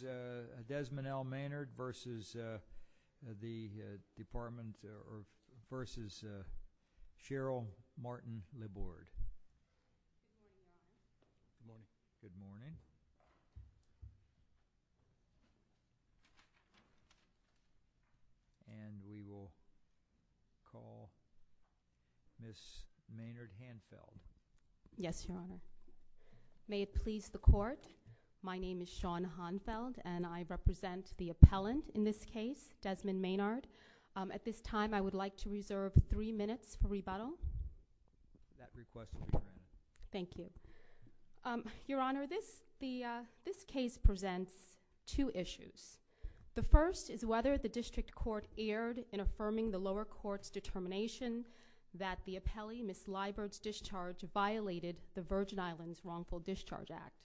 v. Desmond L. Maynard v. Cheryl Martin-Libord Good morning. And we will call Miss Maynard Hanfeld. Yes, Your Honor. May it please the Court, my name is Shawn Hanfeld and I represent the appellant in this case, Desmond Maynard. At this time, I would like to reserve three minutes for rebuttal. That request is granted. Thank you. Your Honor, this case presents two issues. The first is whether the District Court erred in affirming the lower court's determination that the appellee, Miss Libord's discharge, violated the Virgin Islands Wrongful Discharge Act.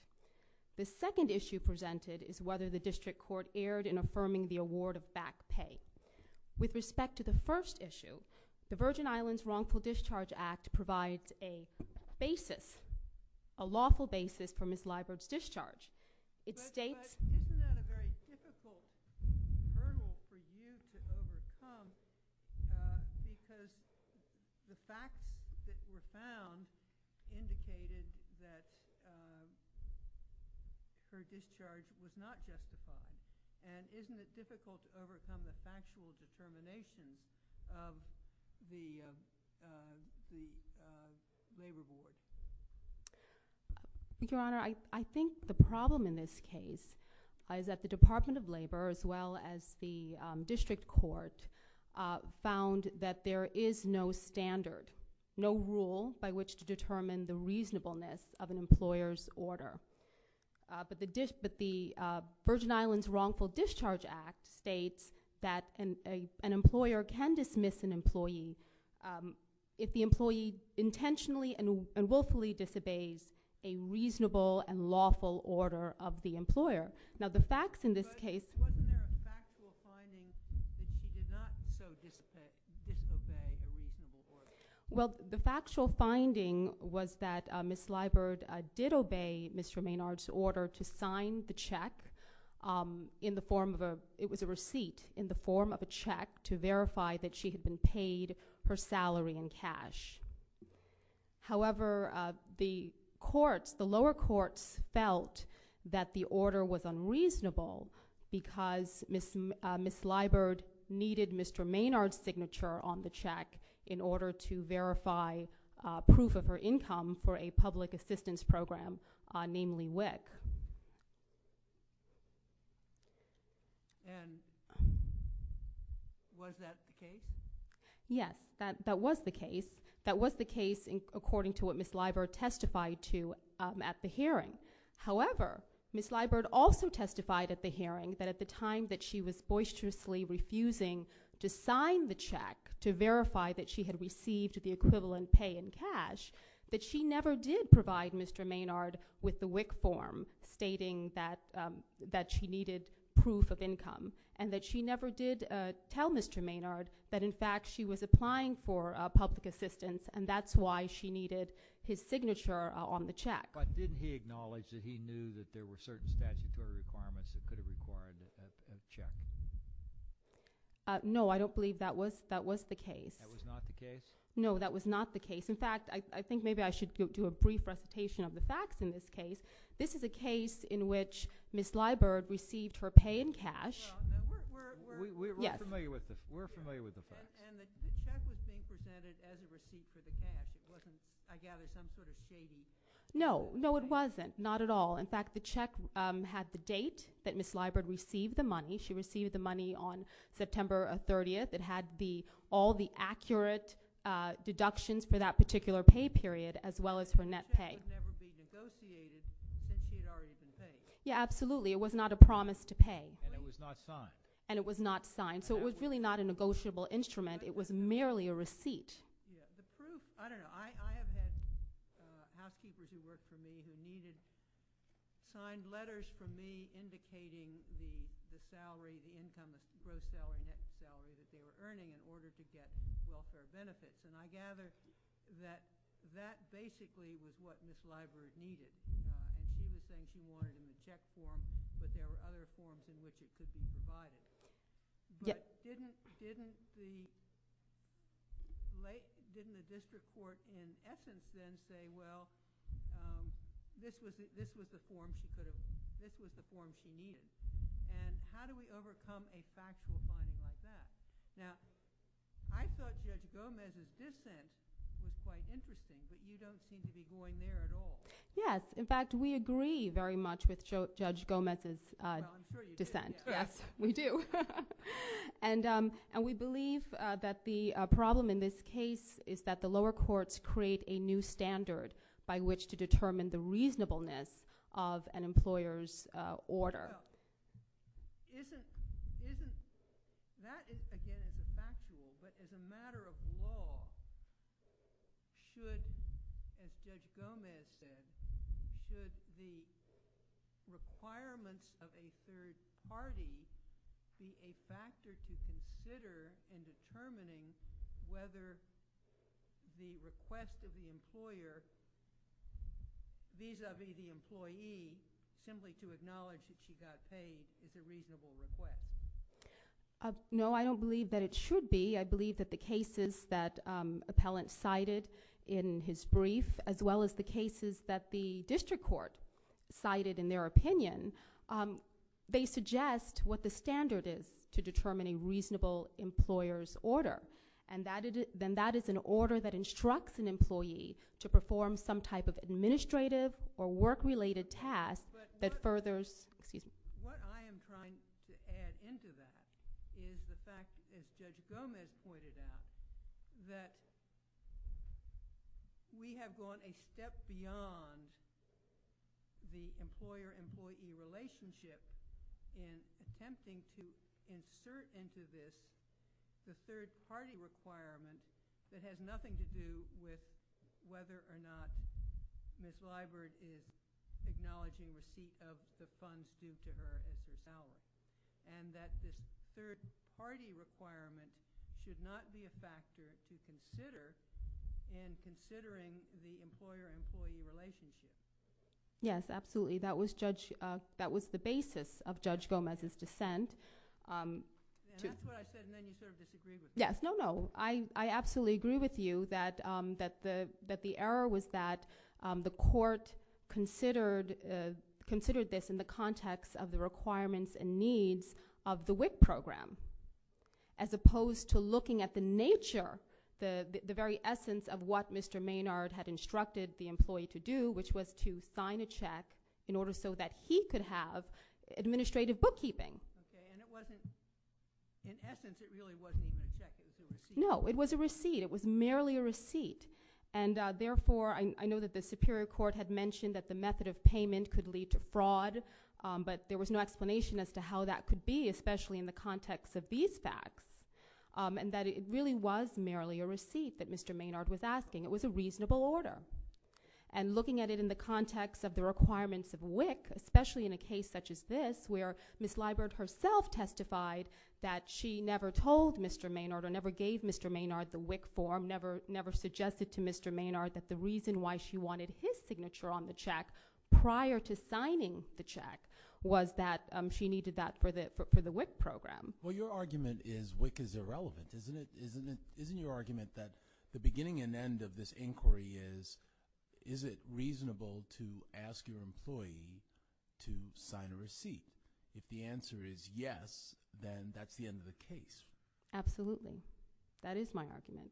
The second issue presented is whether the District Court erred in affirming the award of back pay. With respect to the first issue, the Virgin Islands Wrongful Discharge Act provides a basis, a lawful basis for Miss Libord's discharge. But isn't that a very difficult hurdle for you to overcome because the facts that were found indicated that her discharge was not justified? And isn't it difficult to overcome the factual determination of the labor board? Your Honor, I think the problem in this case is that the Department of Labor as well as the District Court found that there is no standard, no rule by which to determine the reasonableness of an employer's order. But the Virgin Islands Wrongful Discharge Act states that an employer can dismiss an employee if the employee intentionally and willfully disobeys a reasonable and lawful order of the employer. Now the facts in this case- But wasn't there a factual finding that she did not so disobey a reasonable order? Well, the factual finding was that Miss Libord did obey Mr. Maynard's order to sign the check in the form of a- However, the lower courts felt that the order was unreasonable because Miss Libord needed Mr. Maynard's signature on the check in order to verify proof of her income for a public assistance program, namely WIC. Yes, that was the case. That was the case according to what Miss Libord testified to at the hearing. However, Miss Libord also testified at the hearing that at the time that she was boisterously refusing to sign the check to verify that she had received the equivalent pay in cash, that she never did provide Mr. Maynard with the WIC form stating that she needed proof of income and that she never did tell Mr. Maynard that in fact she was applying for public assistance and that's why she needed his signature on the check. But didn't he acknowledge that he knew that there were certain statutory requirements that could have required a check? No, I don't believe that was the case. That was not the case? No, that was not the case. In fact, I think maybe I should do a brief recitation of the facts in this case. This is a case in which Miss Libord received her pay in cash. We're familiar with the facts. And the check was being presented as a receipt for the cash. It wasn't, I gather, some sort of skating? No, no it wasn't. Not at all. In fact, the check had the date that Miss Libord received the money. She received the money on September 30th. It had all the accurate deductions for that particular pay period as well as her net pay. So it would never be negotiated since she had already been paid? Yeah, absolutely. It was not a promise to pay. And it was not signed? And it was not signed. So it was really not a negotiable instrument. It was merely a receipt. The proof, I don't know. I have had housekeepers who worked for me who needed signed letters from me indicating the salary, the income, the gross salary, net salary that they were earning in order to get welfare benefits. And I gather that that basically was what Miss Libord needed. And she was saying she wanted a check form, but there were other forms in which it could be provided. But didn't the district court in essence then say, well, this was the form she needed? And how do we overcome a factual finding like that? Now, I thought Judge Gomez's dissent was quite interesting, but you don't seem to be going there at all. Yes. In fact, we agree very much with Judge Gomez's dissent. Well, I'm sure you do. Yes, we do. And we believe that the problem in this case is that the lower courts create a new standard by which to determine the reasonableness of an employer's order. Well, isn't – that is, again, a factual. But as a matter of law, should, as Judge Gomez said, should the requirements of a third party be a factor to consider in determining whether the request of the employer vis-a-vis the employee, simply to acknowledge that she got paid, is a reasonable request? No, I don't believe that it should be. I believe that the cases that Appellant cited in his brief, as well as the cases that the district court cited in their opinion, they suggest what the standard is to determine a reasonable employer's order. And then that is an order that instructs an employee to perform some type of administrative or work-related task that furthers – excuse me. What I am trying to add into that is the fact, as Judge Gomez pointed out, that we have gone a step beyond the employer-employee relationship in attempting to insert into this the third-party requirement that has nothing to do with whether or not Ms. Liburd is acknowledging receipt of the funds due to her as Appellant. And that this third-party requirement should not be a factor to consider in considering the employer-employee relationship. Yes, absolutely. That was the basis of Judge Gomez's dissent. And that's what I said, and then you sort of disagreed with me. Yes. No, no. I absolutely agree with you that the error was that the court considered this in the context of the requirements and needs of the WIC program, as opposed to looking at the nature, the very essence of what Mr. Maynard had instructed the employee to do, which was to sign a check in order so that he could have administrative bookkeeping. Okay. And it wasn't – in essence, it really wasn't even a check. It was a receipt. No. It was a receipt. It was merely a receipt. And therefore, I know that the Superior Court had mentioned that the method of payment could lead to fraud, but there was no explanation as to how that could be, especially in the context of these facts, and that it really was merely a receipt that Mr. Maynard was asking. It was a reasonable order. And looking at it in the context of the requirements of WIC, especially in a case such as this where Ms. Liburd herself testified that she never told Mr. Maynard or never gave Mr. Maynard the WIC form, never suggested to Mr. Maynard that the reason why she wanted his signature on the check prior to signing the check was that she needed that for the WIC program. Well, your argument is WIC is irrelevant, isn't it? The question of this inquiry is, is it reasonable to ask your employee to sign a receipt? If the answer is yes, then that's the end of the case. Absolutely. That is my argument.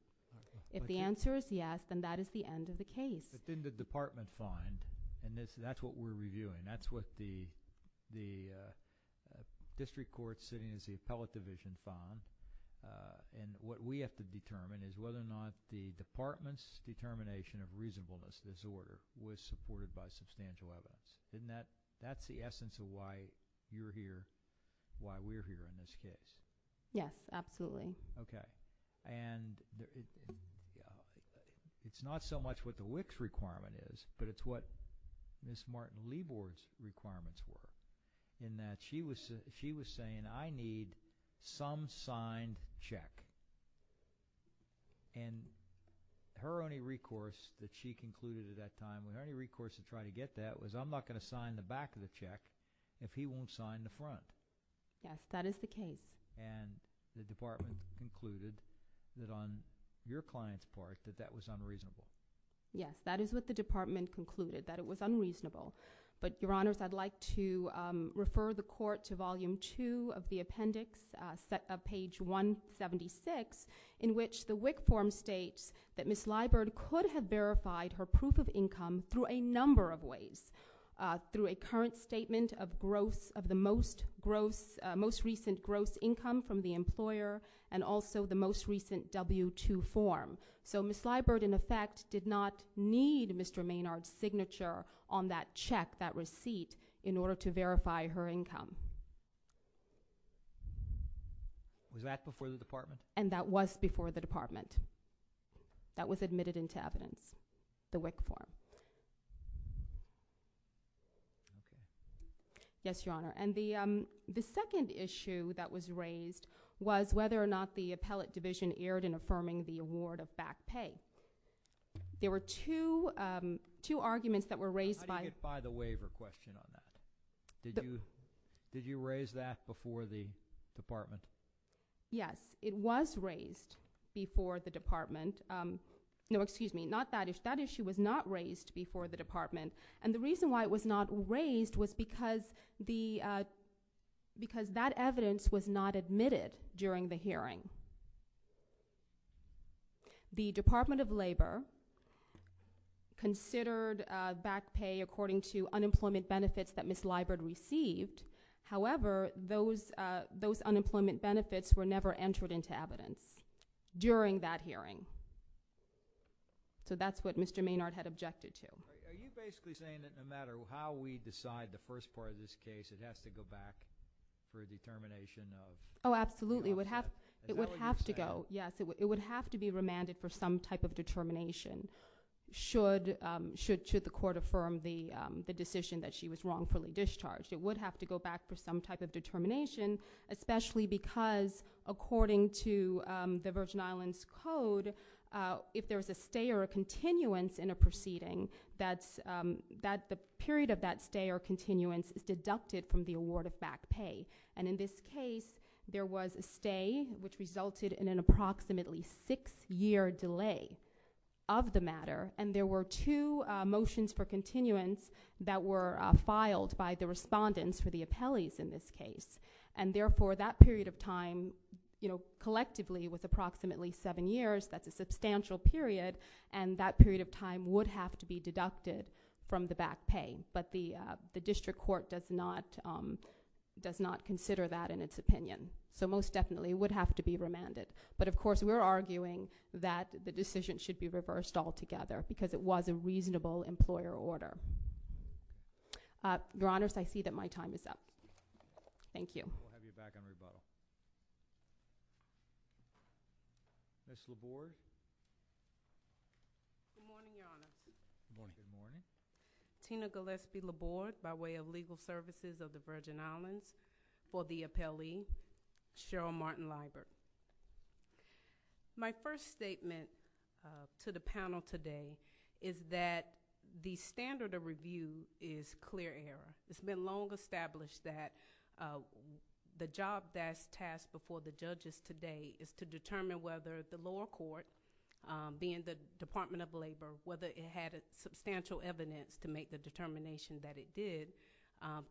If the answer is yes, then that is the end of the case. But then the department fund, and that's what we're reviewing, that's what the district court sitting is the appellate division fund, and what we have to determine is whether or not the department's determination of reasonableness disorder was supported by substantial evidence. That's the essence of why you're here, why we're here in this case. Yes, absolutely. Okay. And it's not so much what the WIC's requirement is, but it's what Ms. Martin-Liburd's requirements were, in that she was saying, I need some signed check. And her only recourse that she concluded at that time, her only recourse to try to get that was, I'm not going to sign the back of the check if he won't sign the front. Yes, that is the case. And the department concluded that on your client's part that that was unreasonable. Yes, that is what the department concluded, that it was unreasonable. But, your honors, I'd like to refer the court to volume two of the appendix, page 176, in which the WIC form states that Ms. Liburd could have verified her proof of income through a number of ways, through a current statement of the most recent gross income from the employer, and also the most recent W-2 form. So Ms. Liburd, in effect, did not need Mr. Maynard's signature on that check, that receipt, in order to verify her income. Was that before the department? And that was before the department. That was admitted into evidence, the WIC form. Yes, your honor. And the second issue that was raised was whether or not the appellate division erred in affirming the award of back pay. There were two arguments that were raised by... How do you get by the waiver question on that? Did you raise that before the department? Yes, it was raised before the department. No, excuse me, not that issue. That issue was not raised before the department. And the reason why it was not raised was because that evidence was not admitted during the hearing. The Department of Labor considered back pay according to unemployment benefits that Ms. Liburd received. However, those unemployment benefits were never entered into evidence during that hearing. So that's what Mr. Maynard had objected to. Are you basically saying that no matter how we decide the first part of this case, it has to go back for a determination of... Oh, absolutely. It would have to go. Yes, it would have to be remanded for some type of determination should the court affirm the decision that she was wrongfully discharged. It would have to go back for some type of determination, especially because according to the Virgin Islands Code, if there's a stay or a continuance in a proceeding, the period of that stay or continuance is deducted from the award of back pay. And in this case, there was a stay, which resulted in an approximately six-year delay of the matter. And there were two motions for continuance that were filed by the respondents for the appellees in this case. And therefore, that period of time, collectively with approximately seven years, that's a substantial period, and that period of time would have to be deducted from the back pay. But the district court does not consider that in its opinion. So most definitely, it would have to be remanded. But of course, we're arguing that the decision should be reversed altogether because it was a reasonable employer order. Your Honors, I see that my time is up. Thank you. We'll have you back on rebuttal. Ms. Laborde? Good morning, Your Honor. Good morning. Tina Gillespie Laborde by way of Legal Services of the Virgin Islands for the appellee, Cheryl Martin-Liebert. My first statement to the panel today is that the standard of review is clear error. It's been long established that the job that's tasked before the judges today is to determine whether the lower court, being the Department of Labor, whether it had substantial evidence to make the determination that it did,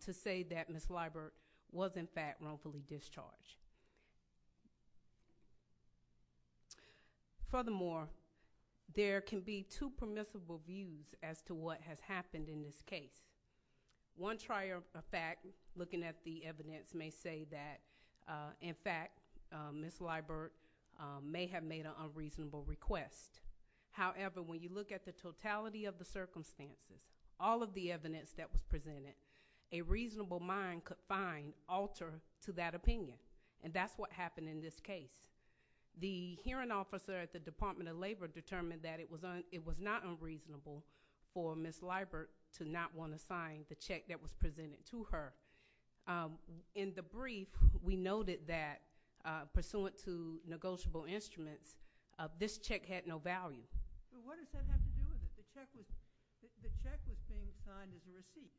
to say that Ms. Liebert was, in fact, wrongfully discharged. Furthermore, there can be two permissible views as to what has happened in this case. One trier of fact, looking at the evidence, may say that, in fact, Ms. Liebert may have made an unreasonable request. However, when you look at the totality of the circumstances, all of the evidence that was presented, a reasonable mind could find alter to that opinion, and that's what happened in this case. The hearing officer at the Department of Labor determined that it was not unreasonable for Ms. Liebert to not want to sign the check that was presented to her. In the brief, we noted that, pursuant to negotiable instruments, this check had no value. So what does that have to do with it? The check was being signed as a receipt,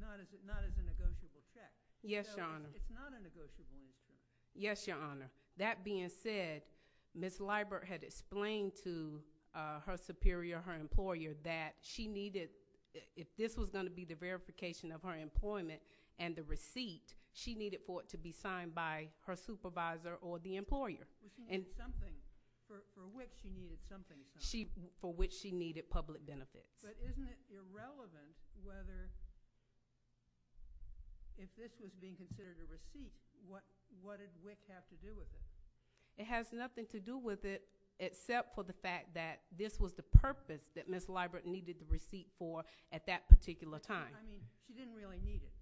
not as a negotiable check. Yes, Your Honor. It's not a negotiable receipt. Yes, Your Honor. That being said, Ms. Liebert had explained to her superior, her employer, that she needed, if this was going to be the verification of her employment for which she needed something. For which she needed public benefits. But isn't it irrelevant whether, if this was being considered a receipt, what does WIC have to do with it? It has nothing to do with it except for the fact that this was the purpose that Ms. Liebert needed the receipt for at that particular time. I mean, she didn't really need it.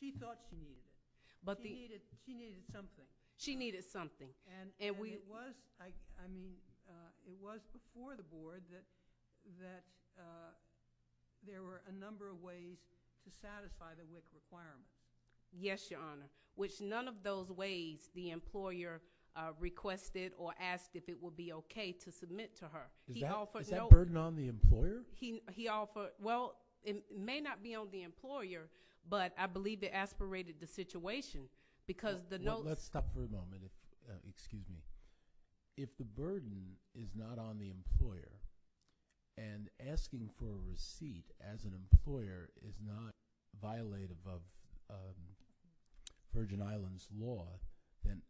She thought she needed it. She needed something. And it was, I mean, it was before the Board that there were a number of ways to satisfy the WIC requirements. Yes, Your Honor. Which none of those ways the employer requested or asked if it would be okay to submit to her. Is that burden on the employer? Well, it may not be on the employer, but I believe it aspirated the situation because the notes Let's stop for a moment. Excuse me. If the burden is not on the employer and asking for a receipt as an employer is not violative of Virgin Islands law, then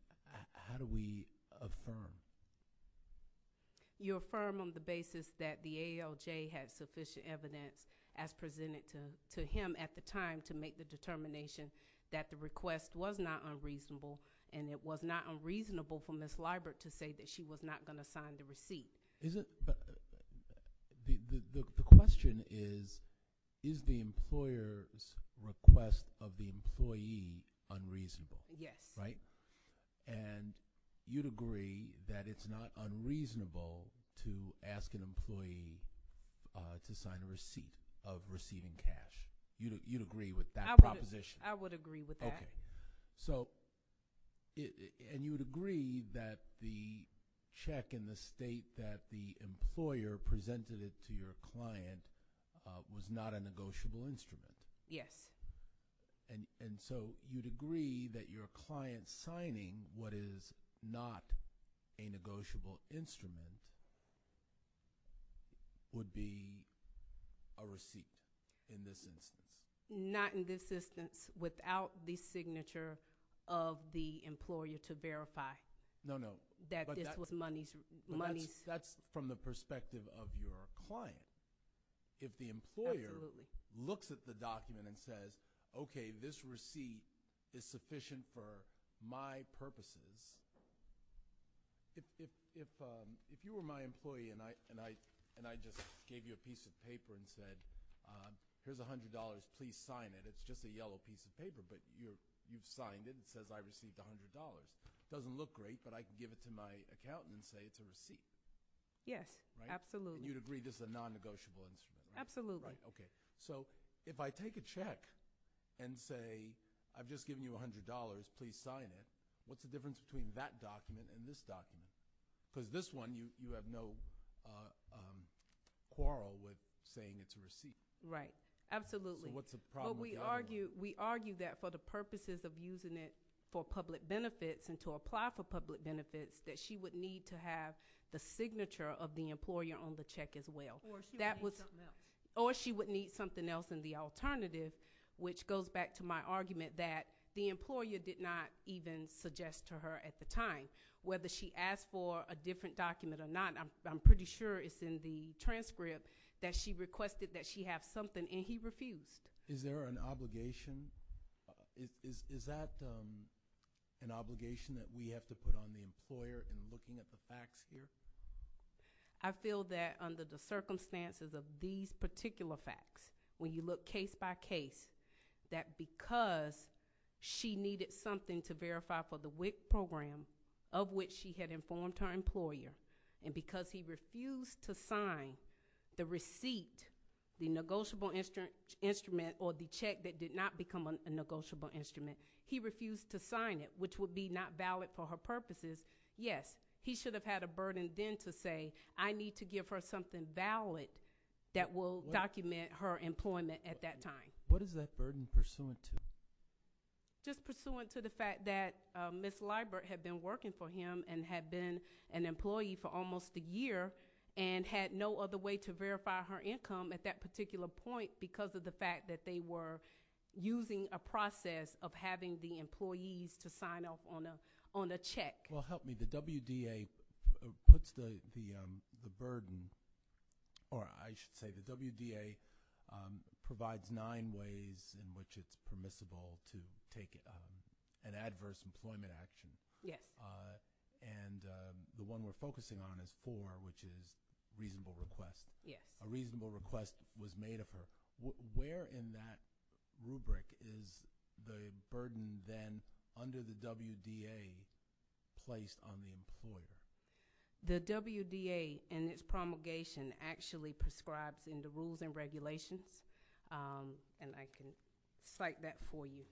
how do we affirm? You affirm on the basis that the ALJ had sufficient evidence, as presented to him at the time, to make the determination that the request was not unreasonable and it was not unreasonable for Ms. Liebert to say that she was not going to sign the receipt. The question is, is the employer's request of the employee unreasonable? Yes. Right? And you'd agree that it's not unreasonable to ask an employee to sign a receipt of receiving cash. You'd agree with that proposition? I would agree with that. Okay. And you would agree that the check in the state that the employer presented it to your client was not a negotiable instrument? Yes. And so you'd agree that your client signing what is not a negotiable instrument would be a receipt in this instance? Not in this instance without the signature of the employer to verify that this was money. That's from the perspective of your client. If the employer looks at the document and says, okay, this receipt is sufficient for my purposes, if you were my employee and I just gave you a piece of paper and said, here's $100. Please sign it. It's just a yellow piece of paper, but you've signed it. It says I received $100. It doesn't look great, but I can give it to my accountant and say it's a receipt. Yes, absolutely. And you'd agree this is a non-negotiable instrument? Absolutely. Okay. So if I take a check and say I've just given you $100. Please sign it. What's the difference between that document and this document? Because this one you have no quarrel with saying it's a receipt. Right, absolutely. So what's the problem? We argue that for the purposes of using it for public benefits and to apply for public benefits, that she would need to have the signature of the employer on the check as well. Or she would need something else. Or she would need something else in the alternative, which goes back to my argument that the employer did not even suggest to her at the time whether she asked for a different document or not. I'm pretty sure it's in the transcript that she requested that she have something, and he refused. Is there an obligation? Is that an obligation that we have to put on the employer in looking at the facts here? I feel that under the circumstances of these particular facts, when you look case by case, that because she needed something to verify for the WIC program, of which she had informed her employer, and because he refused to sign the receipt, the negotiable instrument, or the check that did not become a negotiable instrument, he refused to sign it, which would be not valid for her purposes. Yes, he should have had a burden then to say, I need to give her something valid that will document her employment at that time. What is that burden pursuant to? Just pursuant to the fact that Ms. Leibert had been working for him and had been an employee for almost a year and had no other way to verify her income at that particular point because of the fact that they were using a process of having the employees to sign off on a check. Well, help me. The WDA puts the burden, or I should say the WDA provides nine ways in which it's permissible to take an adverse employment action. Yes. And the one we're focusing on is four, which is reasonable request. Yes. A reasonable request was made of her. Where in that rubric is the burden then under the WDA placed on the employer? The WDA and its promulgation actually prescribes in the rules and regulations, and I can cite that for you,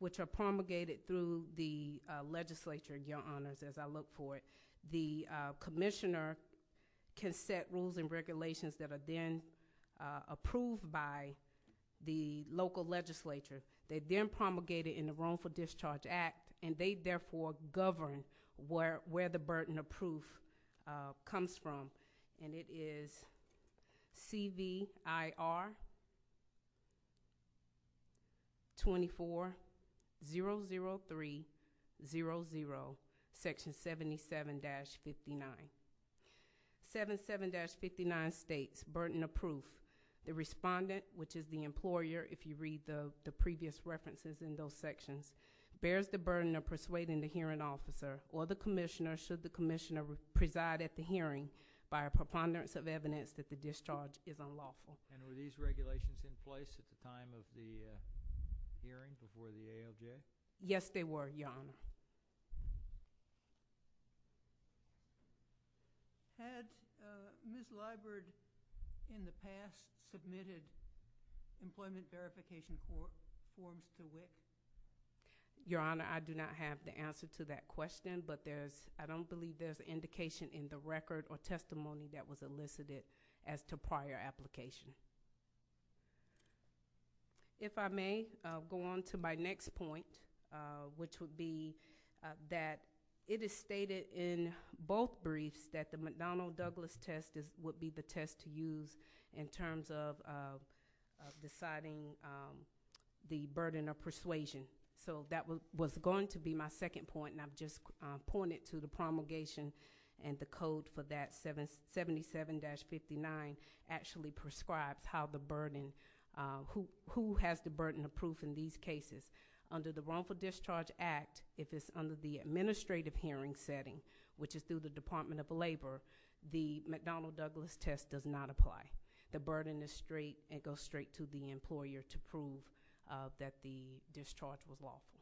which are promulgated through the legislature, Your Honors, as I look for it. The commissioner can set rules and regulations that are then approved by the local legislature. They're then promulgated in the Roam for Discharge Act, and they therefore govern where the burden of proof comes from, and it is CVIR 2400300 section 77-59. 77-59 states burden of proof. The respondent, which is the employer, if you read the previous references in those sections, bears the burden of persuading the hearing officer or the commissioner, preside at the hearing by a preponderance of evidence that the discharge is unlawful. And were these regulations in place at the time of the hearing before the AOJ? Yes, they were, Your Honor. Had Ms. Leibert, in the past, submitted employment verification forms to WIC? Your Honor, I do not have the answer to that question, but I don't believe there's indication in the record or testimony that was elicited as to prior application. If I may, I'll go on to my next point, which would be that it is stated in both briefs that the McDonnell-Douglas test would be the test to use in terms of deciding the burden of persuasion. That was going to be my second point, and I've just pointed to the promulgation and the code for that, 77-59, actually prescribes who has the burden of proof in these cases. Under the Wrongful Discharge Act, if it's under the administrative hearing setting, which is through the Department of Labor, the McDonnell-Douglas test does not apply. The burden is straight, and it goes straight to the employer to prove that the discharge was lawful.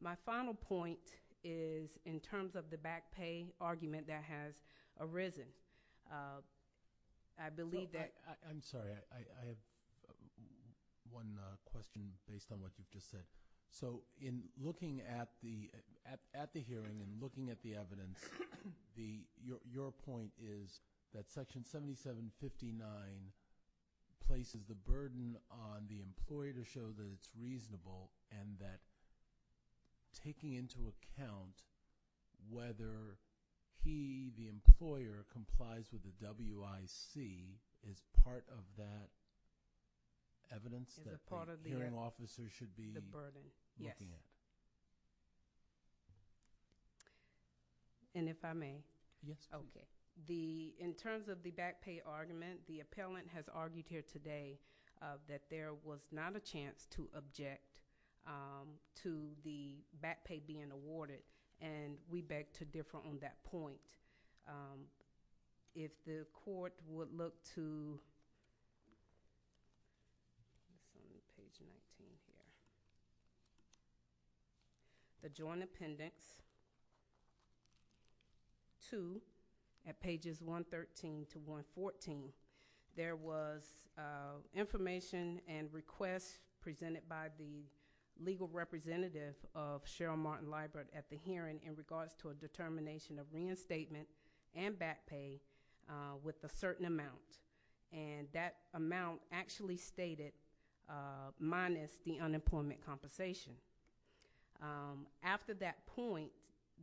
My final point is in terms of the back pay argument that has arisen. I believe that— I'm sorry. I have one question based on what you've just said. In looking at the hearing and looking at the evidence, your point is that Section 77-59 places the burden on the employer to show that it's reasonable and that taking into account whether he, the employer, complies with the WIC is part of that evidence that the hearing officer should be looking at. Yes. If I may? Yes. Okay. In terms of the back pay argument, the appellant has argued here today that there was not a chance to object to the back pay being awarded, and we beg to differ on that point. If the court would look to page 19 here, the Joint Appendix 2 at pages 113 to 114, there was information and requests presented by the legal representative of Cheryl Martin-Liebert at the hearing in regards to a determination of reinstatement and back pay with a certain amount, and that amount actually stated minus the unemployment compensation. After that point,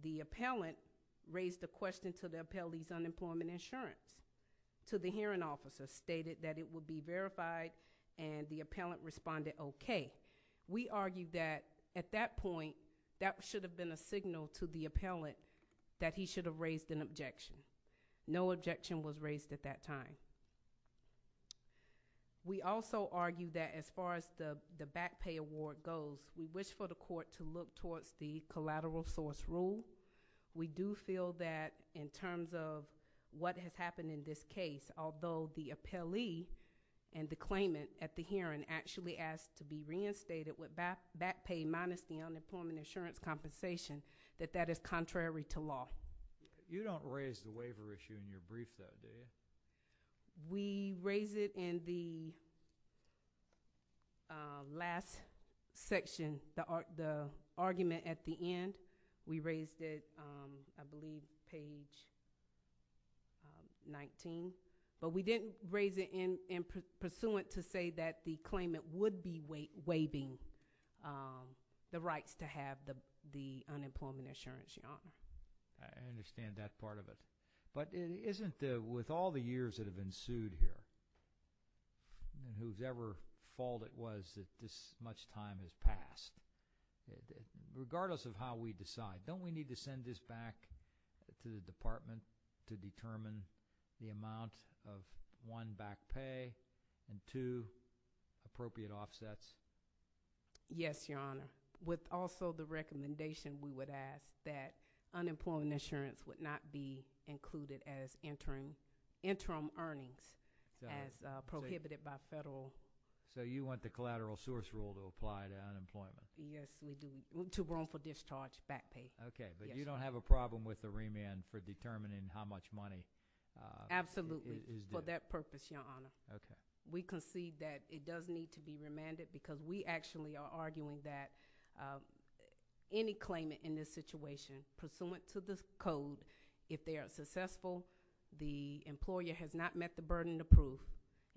the appellant raised the question to the appellee's unemployment insurance, to the hearing officer, stated that it would be verified, and the appellant responded okay. We argue that at that point that should have been a signal to the appellant that he should have raised an objection. No objection was raised at that time. We also argue that as far as the back pay award goes, we wish for the court to look towards the collateral source rule. We do feel that in terms of what has happened in this case, although the appellee and the claimant at the hearing actually asked to be reinstated with back pay minus the unemployment insurance compensation, that that is contrary to law. You don't raise the waiver issue in your brief though, do you? We raised it in the last section, the argument at the end. We raised it, I believe, page 19, but we didn't raise it in pursuant to say that the claimant would be waiving the rights to have the unemployment insurance, Your Honor. I understand that part of it. But it isn't with all the years that have ensued here, whose ever fault it was that this much time has passed, regardless of how we decide, don't we need to send this back to the department to determine the amount of one, back pay, and two appropriate offsets? Yes, Your Honor. With also the recommendation we would ask that unemployment insurance would not be included as interim earnings as prohibited by federal. So you want the collateral source rule to apply to unemployment? Yes, we do. To roam for discharge, back pay. Okay, but you don't have a problem with the remand for determining how much money is there? It's a step purpose, Your Honor. Okay. We concede that it does need to be remanded because we actually are arguing that any claimant in this situation, pursuant to this code, if they are successful, the employer has not met the burden of proof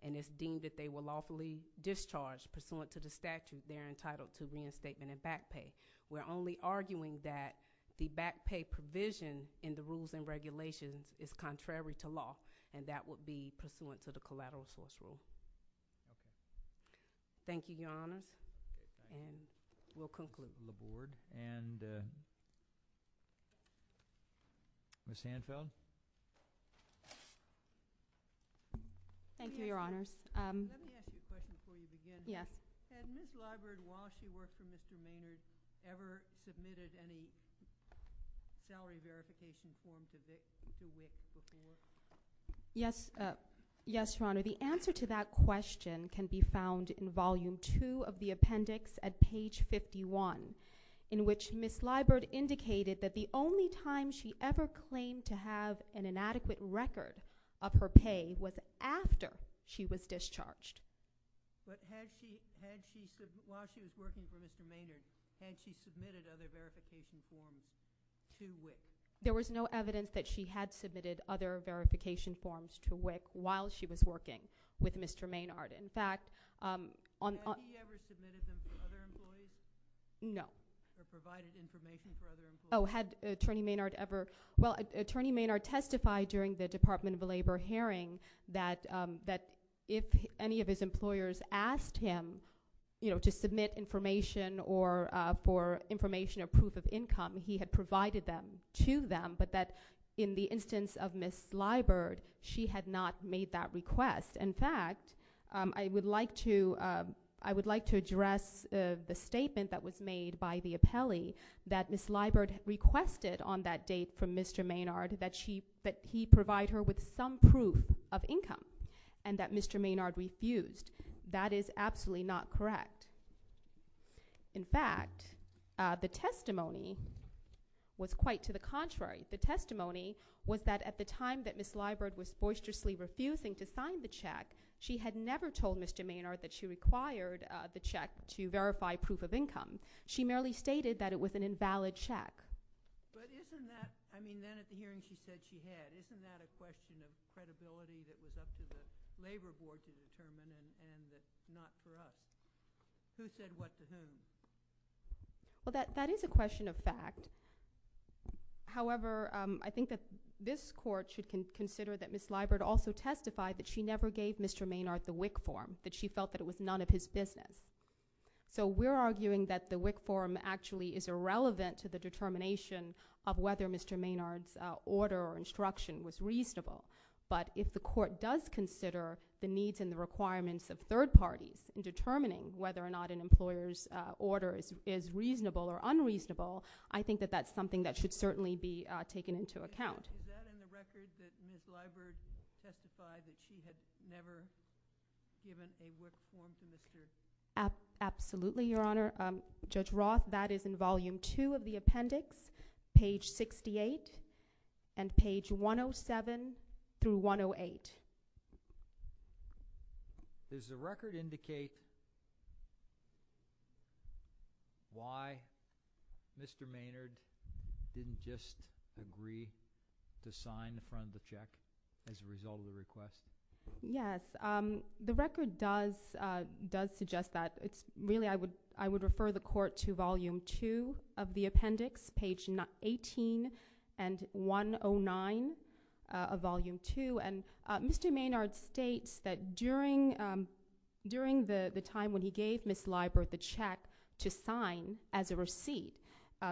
and it's deemed that they were lawfully discharged, pursuant to the statute, they're entitled to reinstatement and back pay. We're only arguing that the back pay provision in the rules and regulations is contrary to law and that would be pursuant to the collateral source rule. Okay. Thank you, Your Honors. And we'll conclude. The Board. And Ms. Hanfeld? Thank you, Your Honors. Let me ask you a question before we begin. Yes. Had Ms. Leibert, while she worked for Mr. Maynard, ever submitted any salary verification form to VIST? Yes, Your Honor. The answer to that question can be found in Volume 2 of the appendix at page 51, in which Ms. Leibert indicated that the only time she ever claimed to have an inadequate record of her pay was after she was discharged. But had she, while she was working for Mr. Maynard, had she submitted other verification forms to WIC? There was no evidence that she had submitted other verification forms to WIC while she was working with Mr. Maynard. In fact, on— Had he ever submitted them for other employees? No. Or provided information for other employees? Oh, had Attorney Maynard ever— Well, Attorney Maynard testified during the Department of Labor hearing that if any of his employers asked him to submit information or for information or proof of income, he had provided them to them, but that in the instance of Ms. Leibert, she had not made that request. In fact, I would like to address the statement that was made by the appellee that Ms. Leibert requested on that date from Mr. Maynard that he provide her with some proof of income and that Mr. Maynard refused. That is absolutely not correct. In fact, the testimony was quite to the contrary. The testimony was that at the time that Ms. Leibert was boisterously refusing to sign the check, she had never told Mr. Maynard that she required the check to verify proof of income. She merely stated that it was an invalid check. But isn't that—I mean, then at the hearing she said she had, isn't that a question of credibility that was up to the Labor Board to determine and not for us? Who said what to whom? Well, that is a question of fact. However, I think that this Court should consider that Ms. Leibert also testified that she never gave Mr. Maynard the WIC form, that she felt that it was none of his business. So we're arguing that the WIC form actually is irrelevant to the determination of whether Mr. Maynard's order or instruction was reasonable. But if the Court does consider the needs and the requirements of third parties in determining whether or not an employer's order is reasonable or unreasonable, I think that that's something that should certainly be taken into account. Is that in the record that Ms. Leibert testified that she had never given a WIC form to Mr. Maynard? Absolutely, Your Honor. Judge Roth, that is in Volume 2 of the appendix, page 68 and page 107 through 108. Does the record indicate why Mr. Maynard didn't just agree to sign the front of the check as a result of the request? Yes. The record does suggest that. Really, I would refer the Court to Volume 2 of the appendix, page 18 and 109 of Volume 2. Mr. Maynard states that during the time when he gave Ms. Leibert the check to sign as a receipt,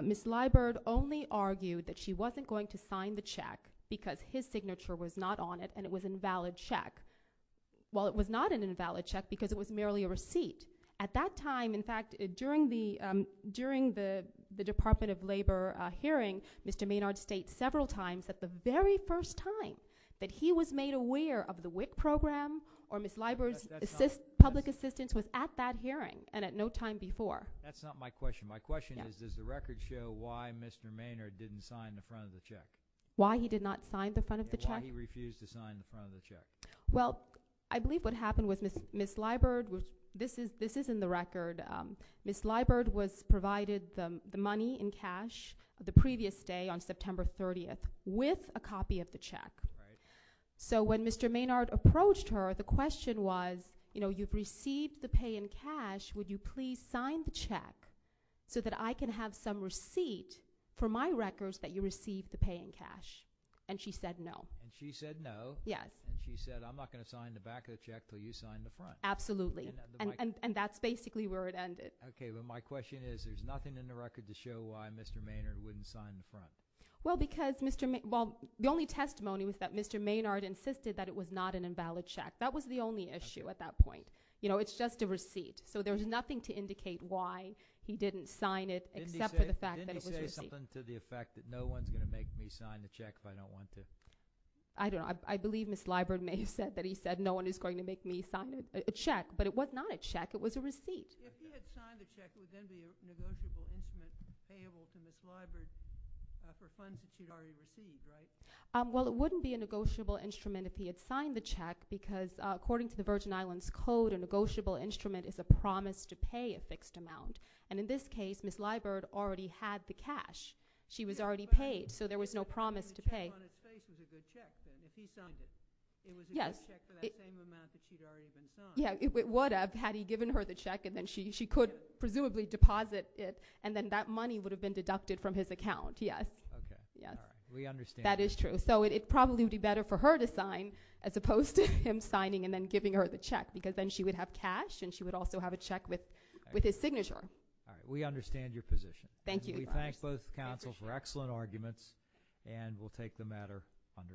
Ms. Leibert only argued that she wasn't going to sign the check because his signature was not on it and it was an invalid check. Well, it was not an invalid check because it was merely a receipt. At that time, in fact, during the Department of Labor hearing, Mr. Maynard states several times that the very first time that he was made aware of the WIC program or Ms. Leibert's public assistance was at that hearing and at no time before. That's not my question. My question is, does the record show why Mr. Maynard didn't sign the front of the check? Why he did not sign the front of the check? Why he refused to sign the front of the check. Well, I believe what happened was Ms. Leibert, this is in the record, Ms. Leibert was provided the money in cash the previous day on September 30th with a copy of the check. So when Mr. Maynard approached her, the question was, you know, you've received the pay in cash, would you please sign the check so that I can have some receipt for my records that you received the pay in cash? And she said no. And she said no? Yes. And she said, I'm not going to sign the back of the check until you sign the front. Absolutely. And that's basically where it ended. Okay, but my question is, there's nothing in the record to show why Mr. Maynard wouldn't sign the front. Well, because Mr. Maynard, well, the only testimony was that Mr. Maynard insisted that it was not an invalid check. That was the only issue at that point. You know, it's just a receipt. So there's nothing to indicate why he didn't sign it except for the fact that it was a receipt. Didn't he say something to the effect that no one's going to make me sign the check if I don't want to? I don't know. I believe Ms. Leibert may have said that he said no one is going to make me sign a check. But it was not a check. It was a receipt. If he had signed the check, it would then be a negotiable instrument payable to Ms. Leibert for funds that she'd already received, right? Well, it wouldn't be a negotiable instrument if he had signed the check because according to the Virgin Islands Code, a negotiable instrument is a promise to pay a fixed amount. And in this case, Ms. Leibert already had the cash. She was already paid, so there was no promise to pay. If he signed it, it was a good check for that same amount that she'd already been signed. Yeah, it would have had he given her the check, and then she could presumably deposit it, and then that money would have been deducted from his account, yes. Okay. We understand that. That is true. So it probably would be better for her to sign as opposed to him signing and then giving her the check because then she would have cash, and she would also have a check with his signature. All right. We understand your position. Thank you. We thank both counsel for excellent arguments, and we'll take the matter under advisement.